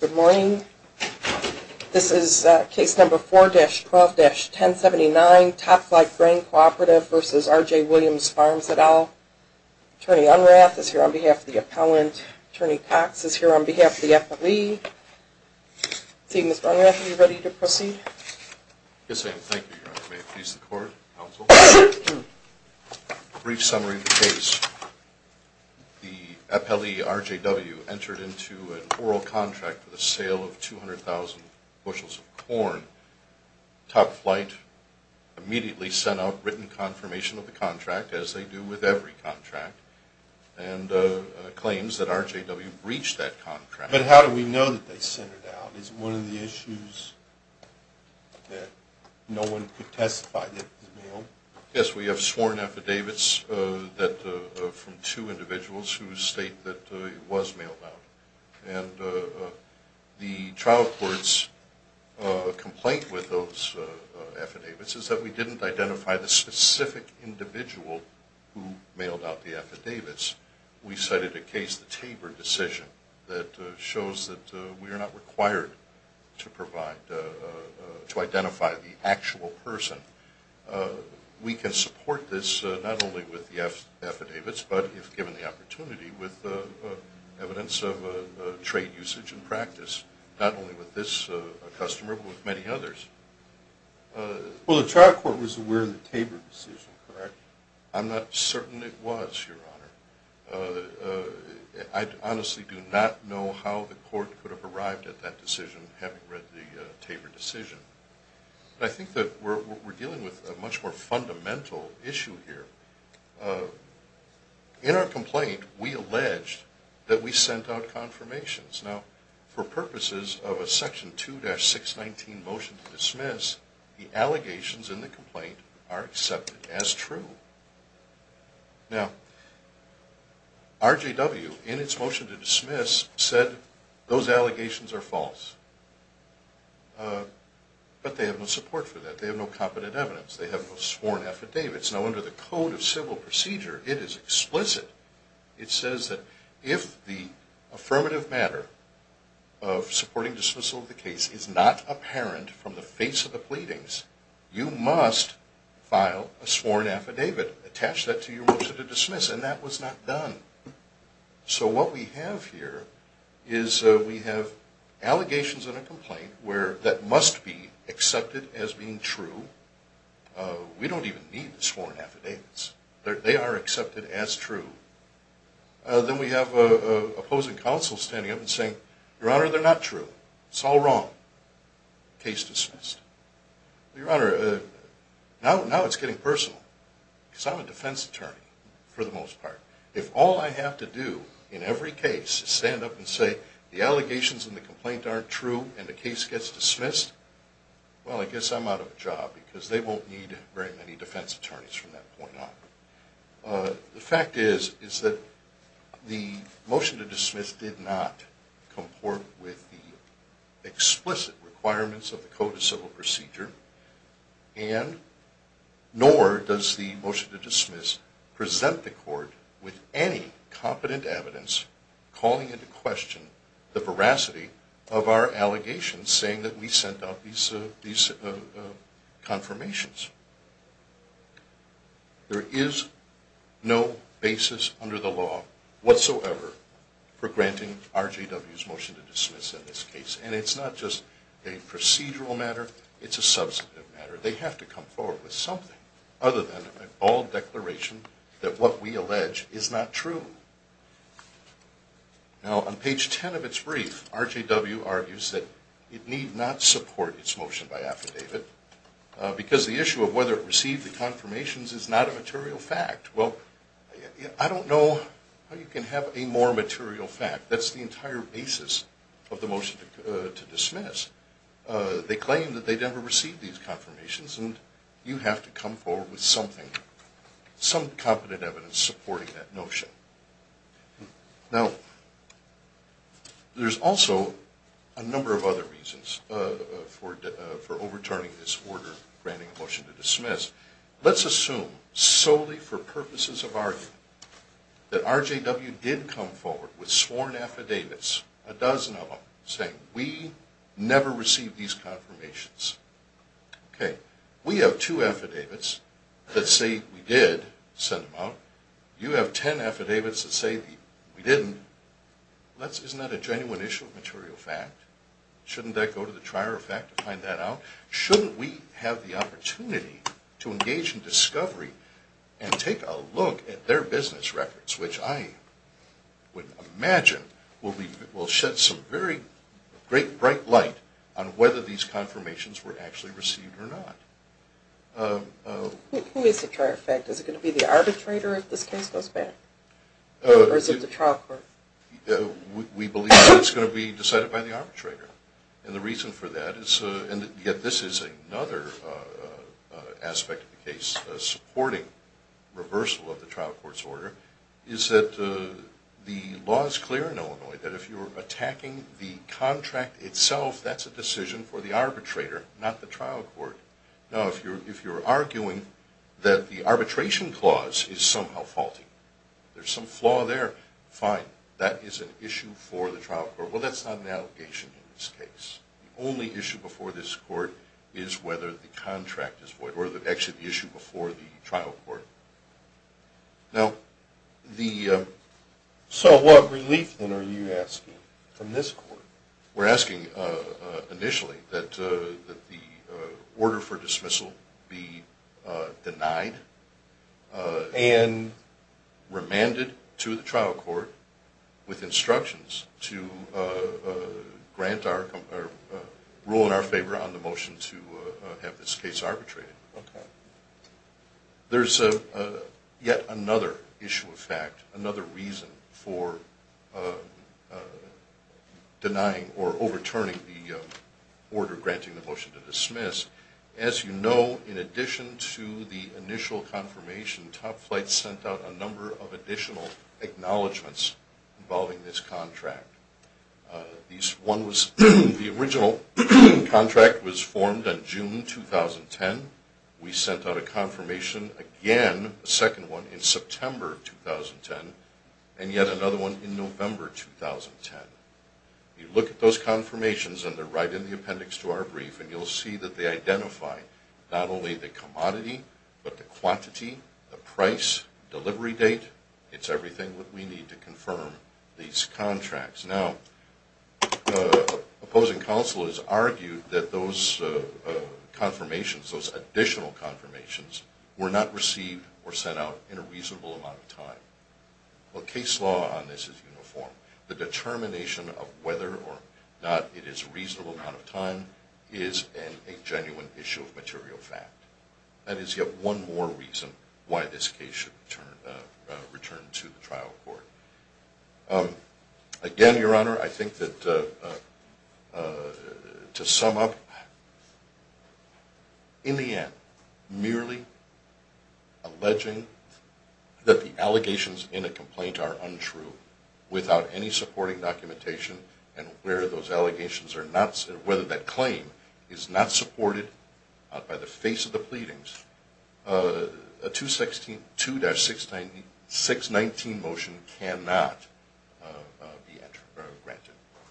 Good morning. This is case number 4-12-1079, Topflight Grain Cooperative v. RJ Williams Farms et al. Attorney Unrath is here on behalf of the appellant. Attorney Cox is here on behalf of the appellee. Seeing Ms. Unrath, are you ready to proceed? Yes, ma'am. Thank you, Your Honor. May it please the Court, Counsel. Brief summary of the case. The appellee, RJW, entered into an oral contract for the sale of 200,000 bushels of corn. Topflight immediately sent out written confirmation of the contract, as they do with every contract, and claims that RJW breached that contract. But how do we know that they sent it out? Is it one of the issues that no one could testify that it was mailed? Yes, we have sworn affidavits from two individuals who state that it was mailed out. And the trial court's complaint with those affidavits is that we didn't identify the specific individual who mailed out the affidavits. We cited a case, the Tabor decision, that shows that we are not required to identify the actual person. We can support this not only with the affidavits, but if given the opportunity, with evidence of trade usage and practice. Not only with this customer, but with many others. Well, the trial court was aware of the Tabor decision, correct? I'm not certain it was, Your Honor. I honestly do not know how the court could have arrived at that decision, having read the Tabor decision. But I think that we're dealing with a much more fundamental issue here. In our complaint, we alleged that we sent out confirmations. Now, for purposes of a Section 2-619 motion to dismiss, the allegations in the complaint are accepted as true. Now, RJW, in its motion to dismiss, said those allegations are false. But they have no support for that. They have no competent evidence. They have no sworn affidavits. Now, under the Code of Civil Procedure, it is explicit. It says that if the affirmative matter of supporting dismissal of the case is not apparent from the face of the pleadings, you must file a sworn affidavit, attach that to your motion to dismiss. And that was not done. So what we have here is we have allegations in a complaint that must be accepted as being true. We don't even need sworn affidavits. They are accepted as true. Then we have opposing counsel standing up and saying, Your Honor, they're not true. It's all wrong. Case dismissed. Your Honor, now it's getting personal because I'm a defense attorney for the most part. If all I have to do in every case is stand up and say the allegations in the complaint aren't true and the case gets dismissed, well, I guess I'm out of a job because they won't need very many defense attorneys from that point on. The fact is that the motion to dismiss did not comport with the explicit requirements of the Code of Civil Procedure, nor does the motion to dismiss present the court with any competent evidence calling into question the veracity of our allegations and saying that we sent out these confirmations. There is no basis under the law whatsoever for granting RJW's motion to dismiss in this case. And it's not just a procedural matter. It's a substantive matter. They have to come forward with something other than a bold declaration that what we allege is not true. Now, on page 10 of its brief, RJW argues that it need not support its motion by affidavit because the issue of whether it received the confirmations is not a material fact. Well, I don't know how you can have a more material fact. That's the entire basis of the motion to dismiss. They claim that they never received these confirmations, and you have to come forward with something, some competent evidence supporting that notion. Now, there's also a number of other reasons for overturning this order granting a motion to dismiss. Let's assume solely for purposes of argument that RJW did come forward with sworn affidavits, a dozen of them, saying we never received these confirmations. We have two affidavits that say we did send them out. You have ten affidavits that say we didn't. Isn't that a genuine issue of material fact? Shouldn't that go to the trier of fact to find that out? Shouldn't we have the opportunity to engage in discovery and take a look at their business records, which I would imagine will shed some very bright light on whether these confirmations were actually received or not. Who is the trier of fact? Is it going to be the arbitrator if this case goes back, or is it the trial court? We believe that it's going to be decided by the arbitrator. And the reason for that is, and yet this is another aspect of the case supporting reversal of the trial court's order, is that the law is clear in Illinois that if you're attacking the contract itself, that's a decision for the arbitrator, not the trial court. Now, if you're arguing that the arbitration clause is somehow faulty, there's some flaw there, fine. That is an issue for the trial court. Well, that's not an allegation in this case. The only issue before this court is whether the contract is void, or actually the issue before the trial court. So what relief, then, are you asking from this court? We're asking, initially, that the order for dismissal be denied and remanded to the trial court with instructions to grant our, or rule in our favor on the motion to have this case arbitrated. There's yet another issue of fact, another reason for denying or overturning the order granting the motion to dismiss. As you know, in addition to the initial confirmation, Top Flight sent out a number of additional acknowledgments involving this contract. The original contract was formed in June 2010. We sent out a confirmation again, a second one, in September 2010, and yet another one in November 2010. You look at those confirmations, and they're right in the appendix to our brief, and you'll see that they identify not only the commodity, but the quantity, the price, delivery date. It's everything that we need to confirm these contracts. Now, opposing counsel has argued that those confirmations, those additional confirmations, were not received or sent out in a reasonable amount of time. Well, case law on this is uniform. The determination of whether or not it is a reasonable amount of time is a genuine issue of material fact. That is yet one more reason why this case should return to the trial court. Again, Your Honor, I think that to sum up, in the end, merely alleging that the allegations in a complaint are untrue, without any supporting documentation, and whether that claim is not supported by the face of the pleadings, a 2-619 motion cannot be granted.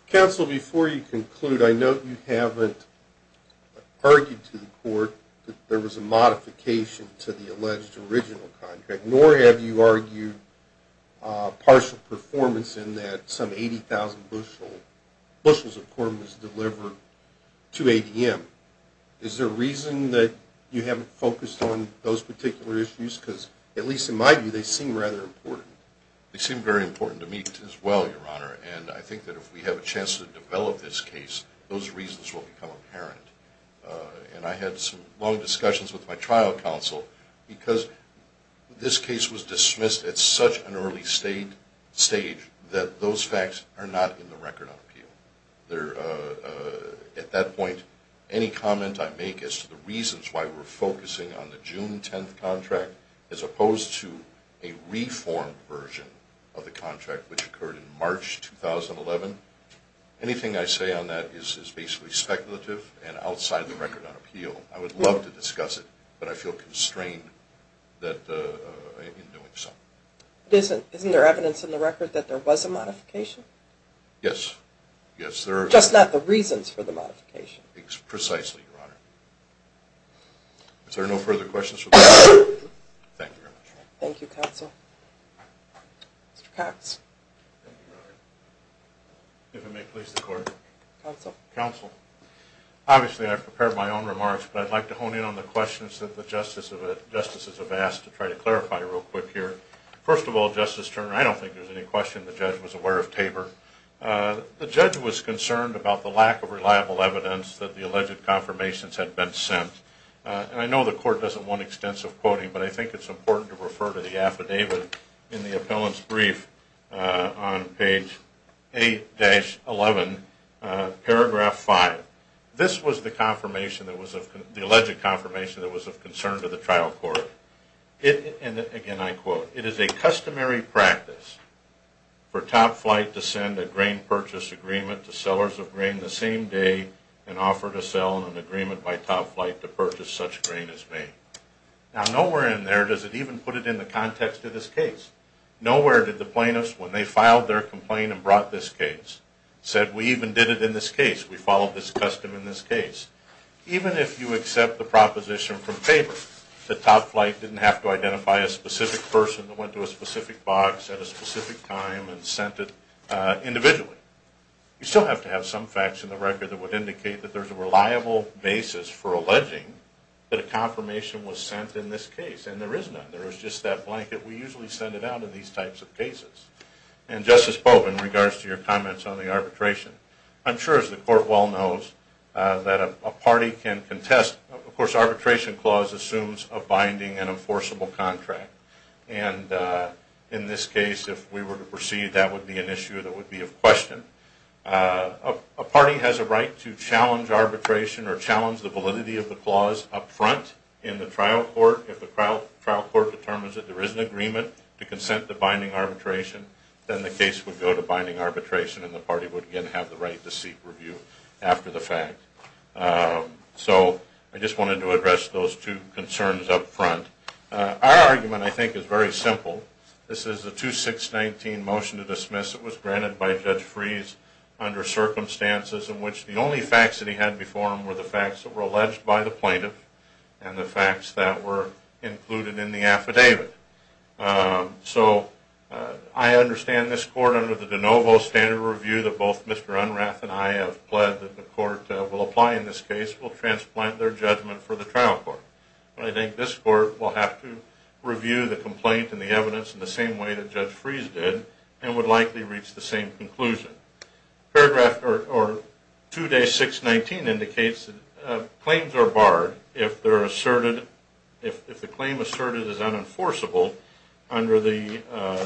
Counsel, before you conclude, I note you haven't argued to the court that there was a modification to the alleged original contract, nor have you argued partial performance in that some 80,000 bushels of corn was delivered to ADM. Is there a reason that you haven't focused on those particular issues? Because, at least in my view, they seem rather important. They seem very important to me as well, Your Honor, and I think that if we have a chance to develop this case, those reasons will become apparent. And I had some long discussions with my trial counsel because this case was dismissed at such an early stage that those facts are not in the record of appeal. At that point, any comment I make as to the reasons why we're focusing on the June 10th contract, as opposed to a reformed version of the contract which occurred in March 2011, anything I say on that is basically speculative and outside the record on appeal. I would love to discuss it, but I feel constrained in doing so. Isn't there evidence in the record that there was a modification? Yes. Just not the reasons for the modification. Precisely, Your Honor. Is there no further questions? Thank you very much. Thank you, Counsel. Mr. Cox. If it may please the Court. Counsel. Counsel. Obviously, I've prepared my own remarks, but I'd like to hone in on the questions that the Justices have asked to try to clarify real quick here. First of all, Justice Turner, I don't think there's any question the judge was aware of Tabor. The judge was concerned about the lack of reliable evidence that the alleged confirmations had been sent. And I know the Court doesn't want extensive quoting, but I think it's important to refer to the affidavit in the appellant's brief on page 8-11, paragraph 5. This was the alleged confirmation that was of concern to the trial court. And again, I quote, It is a customary practice for Top Flight to send a grain purchase agreement to sellers of grain the same day and offer to sell in an agreement by Top Flight to purchase such grain as made. Now, nowhere in there does it even put it in the context of this case. Nowhere did the plaintiffs, when they filed their complaint and brought this case, said we even did it in this case. We followed this custom in this case. Even if you accept the proposition from Tabor that Top Flight didn't have to identify a specific person that went to a specific box at a specific time and sent it individually, you still have to have some facts in the record that would indicate that there's a reliable basis for alleging that a confirmation was sent in this case. And there is none. There is just that blanket. We usually send it out in these types of cases. And Justice Pope, in regards to your comments on the arbitration, I'm sure, as the Court well knows, that a party can contest. Of course, arbitration clause assumes a binding and enforceable contract. And in this case, if we were to proceed, that would be an issue that would be of question. A party has a right to challenge arbitration or challenge the validity of the clause up front in the trial court if the trial court determines that there is an agreement to consent to binding arbitration. Then the case would go to binding arbitration, and the party would again have the right to seek review after the fact. So I just wanted to address those two concerns up front. Our argument, I think, is very simple. This is a 2-619 motion to dismiss. It was granted by Judge Freese under circumstances in which the only facts that he had before him were the facts that were alleged by the plaintiff and the facts that were included in the affidavit. So I understand this Court, under the de novo standard review that both Mr. Unrath and I have pled that the Court will apply in this case, will transplant their judgment for the trial court. But I think this Court will have to review the complaint and the evidence in the same way that Judge Freese did and would likely reach the same conclusion. Paragraph 2-619 indicates that claims are barred if the claim asserted is unenforceable under the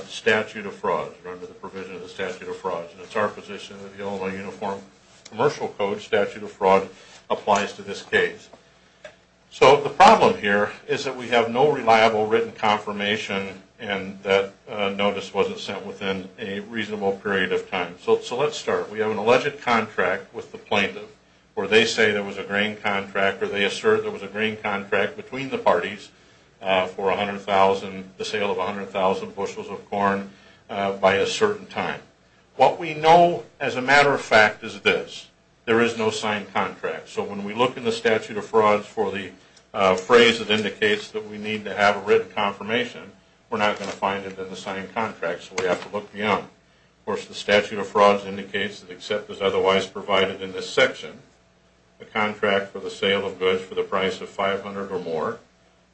statute of fraud or under the provision of the statute of fraud. It's our position that the Illinois Uniform Commercial Code statute of fraud applies to this case. So the problem here is that we have no reliable written confirmation and that notice wasn't sent within a reasonable period of time. So let's start. We have an alleged contract with the plaintiff where they say there was a grain contract or they assert there was a grain contract between the parties for the sale of 100,000 bushels of corn by a certain time. What we know, as a matter of fact, is this. There is no signed contract. So when we look in the statute of frauds for the phrase that indicates that we need to have a written confirmation, we're not going to find it in the signed contract, so we have to look beyond. Of course, the statute of frauds indicates that except as otherwise provided in this section, the contract for the sale of goods for the price of 500 or more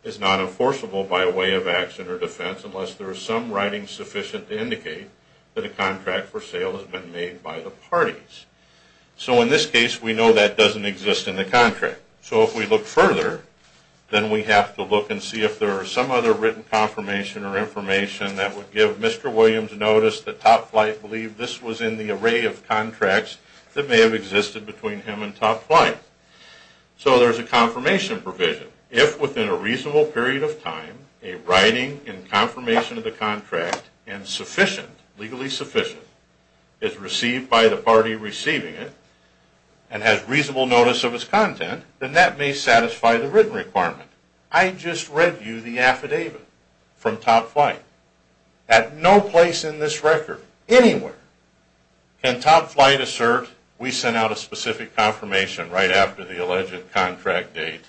is not enforceable by way of action or defense unless there is some writing sufficient to indicate that a contract for sale has been made by the parties. So in this case, we know that doesn't exist in the contract. So if we look further, then we have to look and see if there are some other written confirmation or information that would give Mr. Williams notice that Top Flight believed this was in the array of contracts that may have existed between him and Top Flight. So there's a confirmation provision. If within a reasonable period of time, a writing in confirmation of the contract and sufficient, legally sufficient, is received by the party receiving it and has reasonable notice of its content, then that may satisfy the written requirement. I just read you the affidavit from Top Flight. At no place in this record, anywhere, can Top Flight assert we sent out a specific confirmation right after the alleged contract date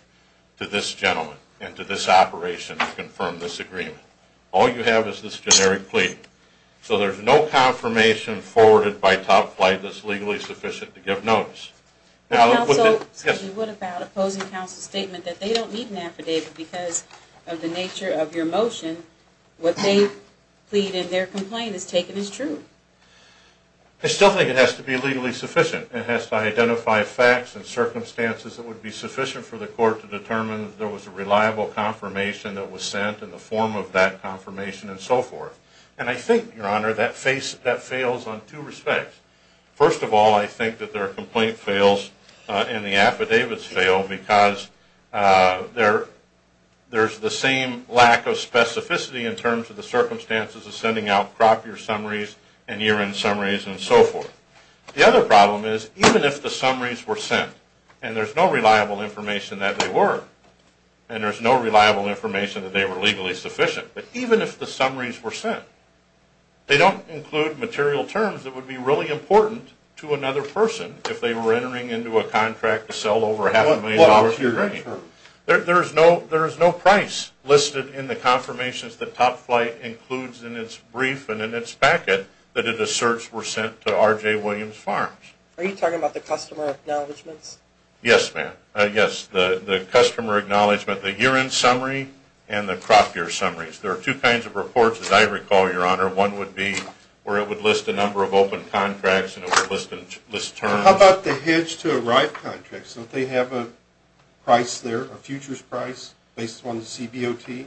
to this gentleman and to this operation to confirm this agreement. All you have is this generic plea. So there's no confirmation forwarded by Top Flight that's legally sufficient to give notice. What about opposing counsel's statement that they don't need an affidavit because of the nature of your motion? What they plead in their complaint is taken as true. I still think it has to be legally sufficient. It has to identify facts and circumstances that would be sufficient for the court to determine that there was a reliable confirmation that was sent in the form of that confirmation and so forth. And I think, Your Honor, that fails on two respects. First of all, I think that their complaint fails and the affidavits fail because there's the same lack of specificity in terms of the circumstances of sending out crop year summaries and year end summaries and so forth. The other problem is even if the summaries were sent and there's no reliable information that they were and there's no reliable information that they were legally sufficient, but even if the summaries were sent, they don't include material terms that would be really important to another person if they were entering into a contract to sell over half a million dollars worth of grain. There is no price listed in the confirmations that Top Flight includes in its brief and in its packet that it asserts were sent to R.J. Williams Farms. Are you talking about the customer acknowledgements? Yes, ma'am. Yes, the customer acknowledgement, the year end summary and the crop year summaries. There are two kinds of reports, as I recall, Your Honor. One would be where it would list a number of open contracts and it would list terms. How about the hedge to arrive contracts? Don't they have a price there, a futures price based on the CBOT?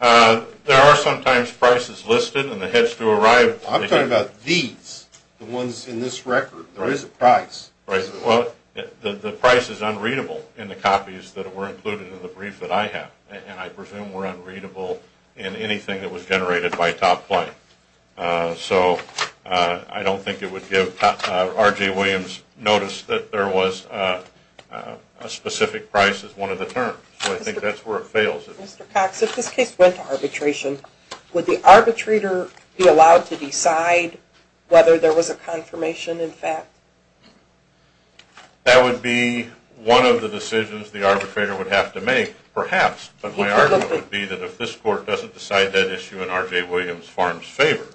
There are sometimes prices listed in the hedge to arrive. I'm talking about these, the ones in this record. There is a price. Right. Well, the price is unreadable in the copies that were included in the brief that I have, and I presume were unreadable in anything that was generated by Top Flight. So I don't think it would give R.J. Williams notice that there was a specific price as one of the terms. So I think that's where it fails. Mr. Cox, if this case went to arbitration, would the arbitrator be allowed to decide whether there was a confirmation in fact? That would be one of the decisions the arbitrator would have to make, perhaps. But my argument would be that if this court doesn't decide that issue in R.J. Williams Farms' favor,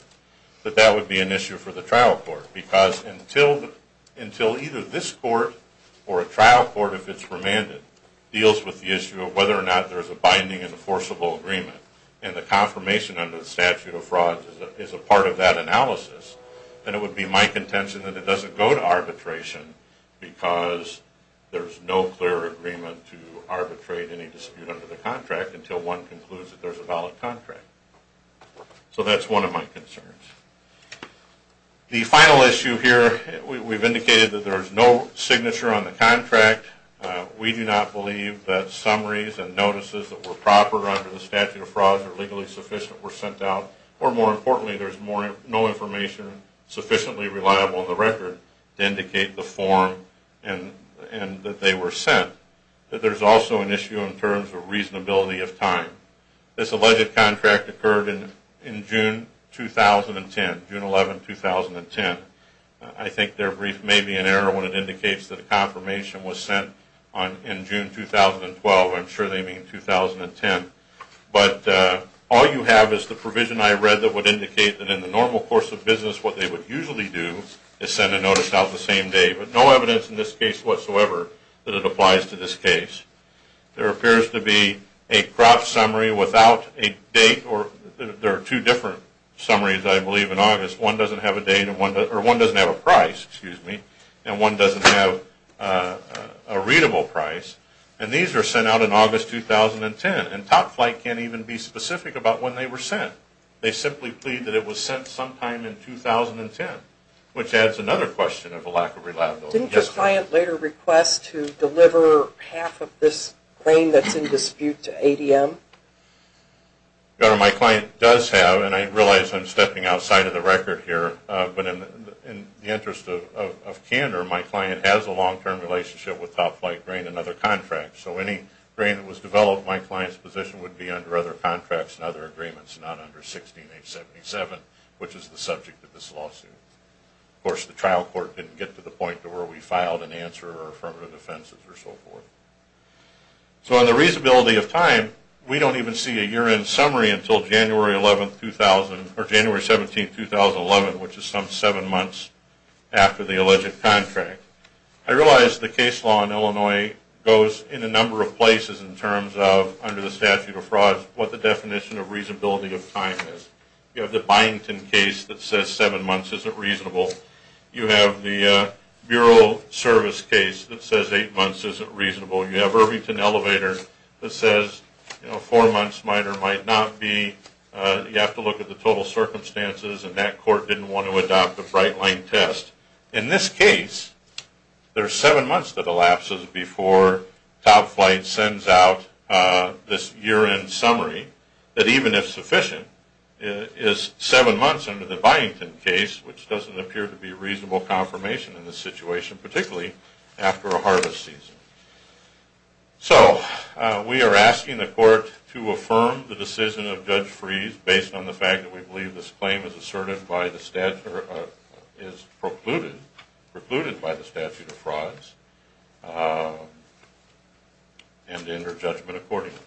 that that would be an issue for the trial court. Because until either this court or a trial court, if it's remanded, deals with the issue of whether or not there's a binding enforceable agreement and the confirmation under the statute of frauds is a part of that analysis, then it would be my contention that it doesn't go to arbitration because there's no clear agreement to arbitrate any dispute under the contract until one concludes that there's a valid contract. So that's one of my concerns. The final issue here, we've indicated that there's no signature on the contract. We do not believe that summaries and notices that were proper under the statute of frauds or legally sufficient were sent out. Or more importantly, there's no information sufficiently reliable in the record to indicate the form and that they were sent. There's also an issue in terms of reasonability of time. This alleged contract occurred in June 2010, June 11, 2010. I think there may be an error when it indicates that a confirmation was sent in June 2012. I'm sure they mean 2010. But all you have is the provision I read that would indicate that in the normal course of business, what they would usually do is send a notice out the same day. But no evidence in this case whatsoever that it applies to this case. There appears to be a crop summary without a date. There are two different summaries, I believe, in August. One doesn't have a date, or one doesn't have a price, excuse me. And one doesn't have a readable price. And these were sent out in August 2010. And Top Flight can't even be specific about when they were sent. They simply plead that it was sent sometime in 2010, which adds another question of a lack of reliability. Didn't your client later request to deliver half of this grain that's in dispute to ADM? My client does have, and I realize I'm stepping outside of the record here, but in the interest of candor, my client has a long-term relationship with Top Flight grain and other contracts. So any grain that was developed in my client's position would be under other contracts and other agreements, not under 16.877, which is the subject of this lawsuit. Of course, the trial court didn't get to the point to where we filed an answer or affirmative offenses or so forth. So on the reasonability of time, we don't even see a year-end summary until January 11, 2000, or January 17, 2011, which is some seven months after the alleged contract. I realize the case law in Illinois goes in a number of places in terms of, under the statute of frauds, what the definition of reasonability of time is. You have the Byington case that says seven months isn't reasonable. You have the Bureau Service case that says eight months isn't reasonable. You have Irvington Elevator that says four months might or might not be. You have to look at the total circumstances, and that court didn't want to adopt a bright-line test. In this case, there's seven months that elapses before Top Flight sends out this year-end summary that even if sufficient, is seven months under the Byington case, which doesn't appear to be reasonable confirmation in this situation, particularly after a harvest season. So we are asking the court to affirm the decision of Judge Freese based on the fact that we believe this claim is asserted by the statute or is precluded by the statute of frauds, and to enter judgment accordingly.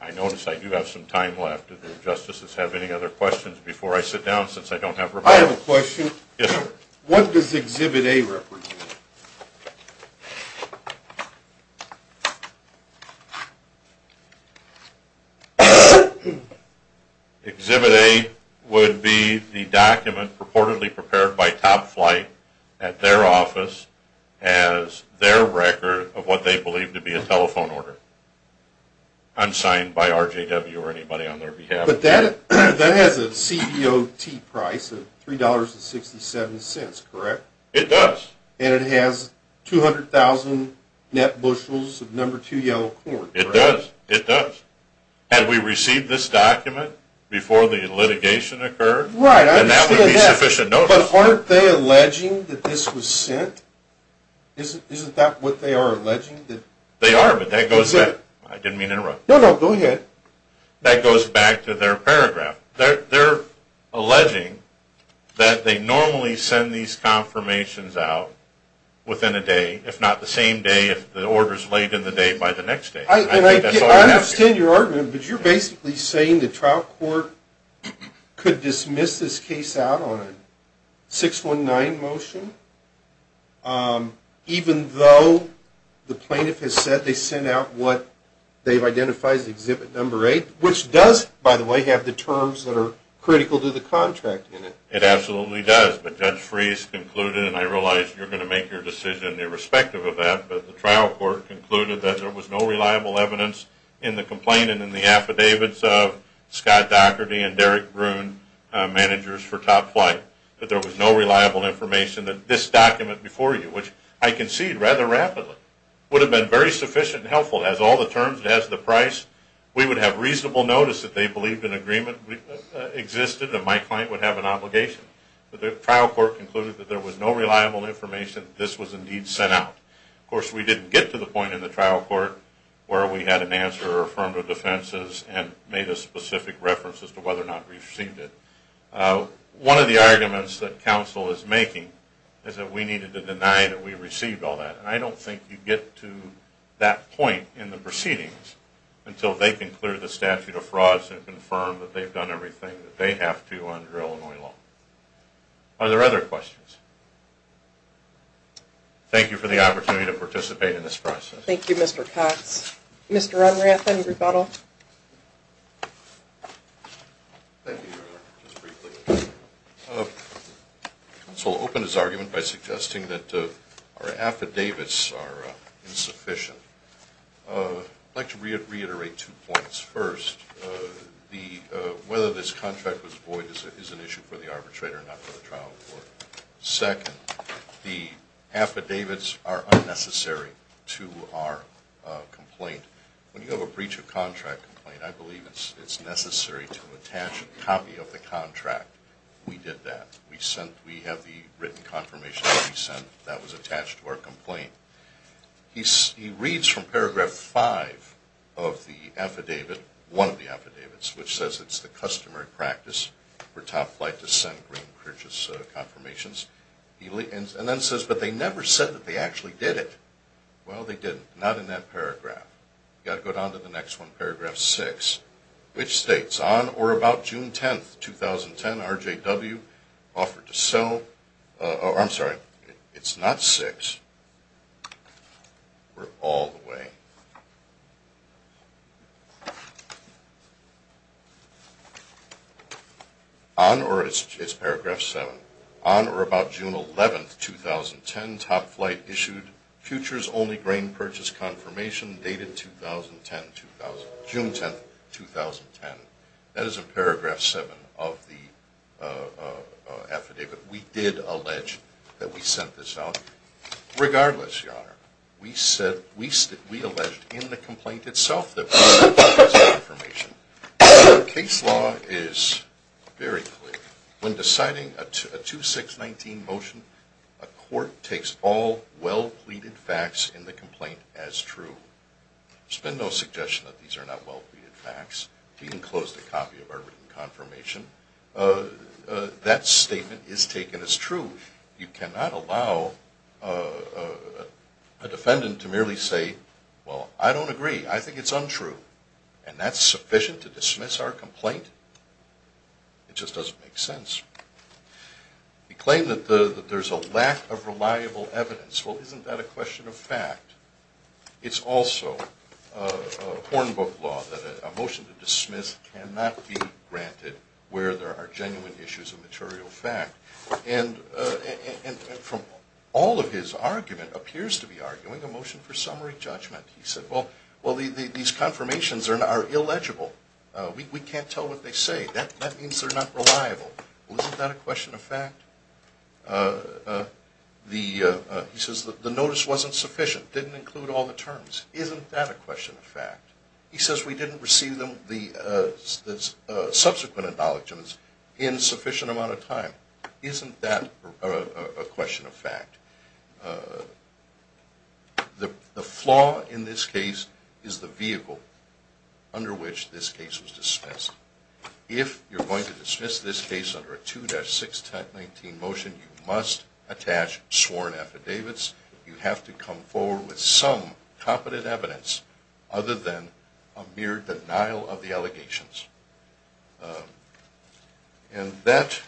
I notice I do have some time left. Do the justices have any other questions before I sit down since I don't have remarks? I have a question. Yes, sir. What does Exhibit A represent? Exhibit A would be the document purportedly prepared by Top Flight at their office as their record of what they believe to be a telephone order, unsigned by RJW or anybody on their behalf. But that has a CDOT price of $3.67, correct? And it has 200,000 net bushels of No. 2 yellow corn. It does. It does. Had we received this document before the litigation occurred, then that would be sufficient notice. But aren't they alleging that this was sent? Isn't that what they are alleging? They are, but that goes back. I didn't mean to interrupt. No, no. Go ahead. That goes back to their paragraph. They are alleging that they normally send these confirmations out within a day, if not the same day if the order is laid in the day by the next day. I understand your argument, but you are basically saying the trial court could dismiss this case out on a 619 motion, even though the plaintiff has said they sent out what they've identified as Exhibit No. 8, which does, by the way, have the terms that are critical to the contract in it. It absolutely does. But Judge Freese concluded, and I realize you're going to make your decision irrespective of that, but the trial court concluded that there was no reliable evidence in the complaint and in the affidavits of Scott Dougherty and Derek Bruhn, managers for Top Flight, that there was no reliable information that this document before you, which I concede rather rapidly, would have been very sufficient and helpful. It has all the terms. It has the price. We would have reasonable notice that they believed an agreement existed and my client would have an obligation. But the trial court concluded that there was no reliable information that this was indeed sent out. Of course, we didn't get to the point in the trial court where we had an answer or affirmed our defenses and made a specific reference as to whether or not we received it. One of the arguments that counsel is making is that we needed to deny that we received all that. And I don't think you get to that point in the proceedings until they can clear the statute of frauds and confirm that they've done everything that they have to under Illinois law. Are there other questions? Thank you for the opportunity to participate in this process. Thank you, Mr. Cox. Mr. Unrath, any rebuttal? Thank you, Your Honor. Just briefly. Counsel opened his argument by suggesting that our affidavits are insufficient. I'd like to reiterate two points. First, whether this contract was void is an issue for the arbitrator and not for the trial court. Second, the affidavits are unnecessary to our complaint. When you have a breach of contract complaint, I believe it's necessary to attach a copy of the contract. We did that. We have the written confirmation that we sent that was attached to our complaint. He reads from paragraph 5 of the affidavit, one of the affidavits, which says it's the customary practice for Top Flight to send green purchase confirmations. And then says, but they never said that they actually did it. Well, they didn't. Not in that paragraph. You've got to go down to the next one, paragraph 6, which states, on or about June 10, 2010, RJW offered to sell... Oh, I'm sorry. It's not 6. We're all the way... On or... It's paragraph 7. On or about June 11, 2010, Top Flight issued futures-only green purchase confirmation dated June 10, 2010. That is in paragraph 7 of the affidavit. We did allege that we sent this out. Regardless, Your Honor, we alleged in the complaint itself that we sent this confirmation. Case law is very clear. When deciding a 2-6-19 motion, a court takes all well-pleaded facts in the complaint as true. There's been no suggestion that these are not well-pleaded facts. You can close the copy of our written confirmation. That statement is taken as true. You cannot allow a defendant to merely say, well, I don't agree. I think it's untrue. And that's sufficient to dismiss our complaint? It just doesn't make sense. We claim that there's a lack of reliable evidence. Well, isn't that a question of fact? It's also a hornbook law that a motion to dismiss cannot be granted where there are genuine issues of material fact. And from all of his argument appears to be arguing a motion for summary judgment. He said, well, these confirmations are illegible. We can't tell what they say. That means they're not reliable. Well, isn't that a question of fact? He says the notice wasn't sufficient, didn't include all the terms. Isn't that a question of fact? He says we didn't receive the subsequent acknowledgments in a sufficient amount of time. Isn't that a question of fact? The flaw in this case is the vehicle under which this case was dismissed. If you're going to dismiss this case under a 2-619 motion, you must attach sworn affidavits. You have to come forward with some competent evidence other than a mere denial of the allegations. And that's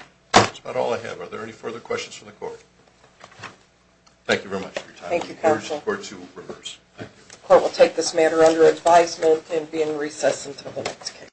about all I have. Are there any further questions from the court? Thank you very much for your time. Thank you, counsel. The court will take this matter under advisement and be in recess until the next case.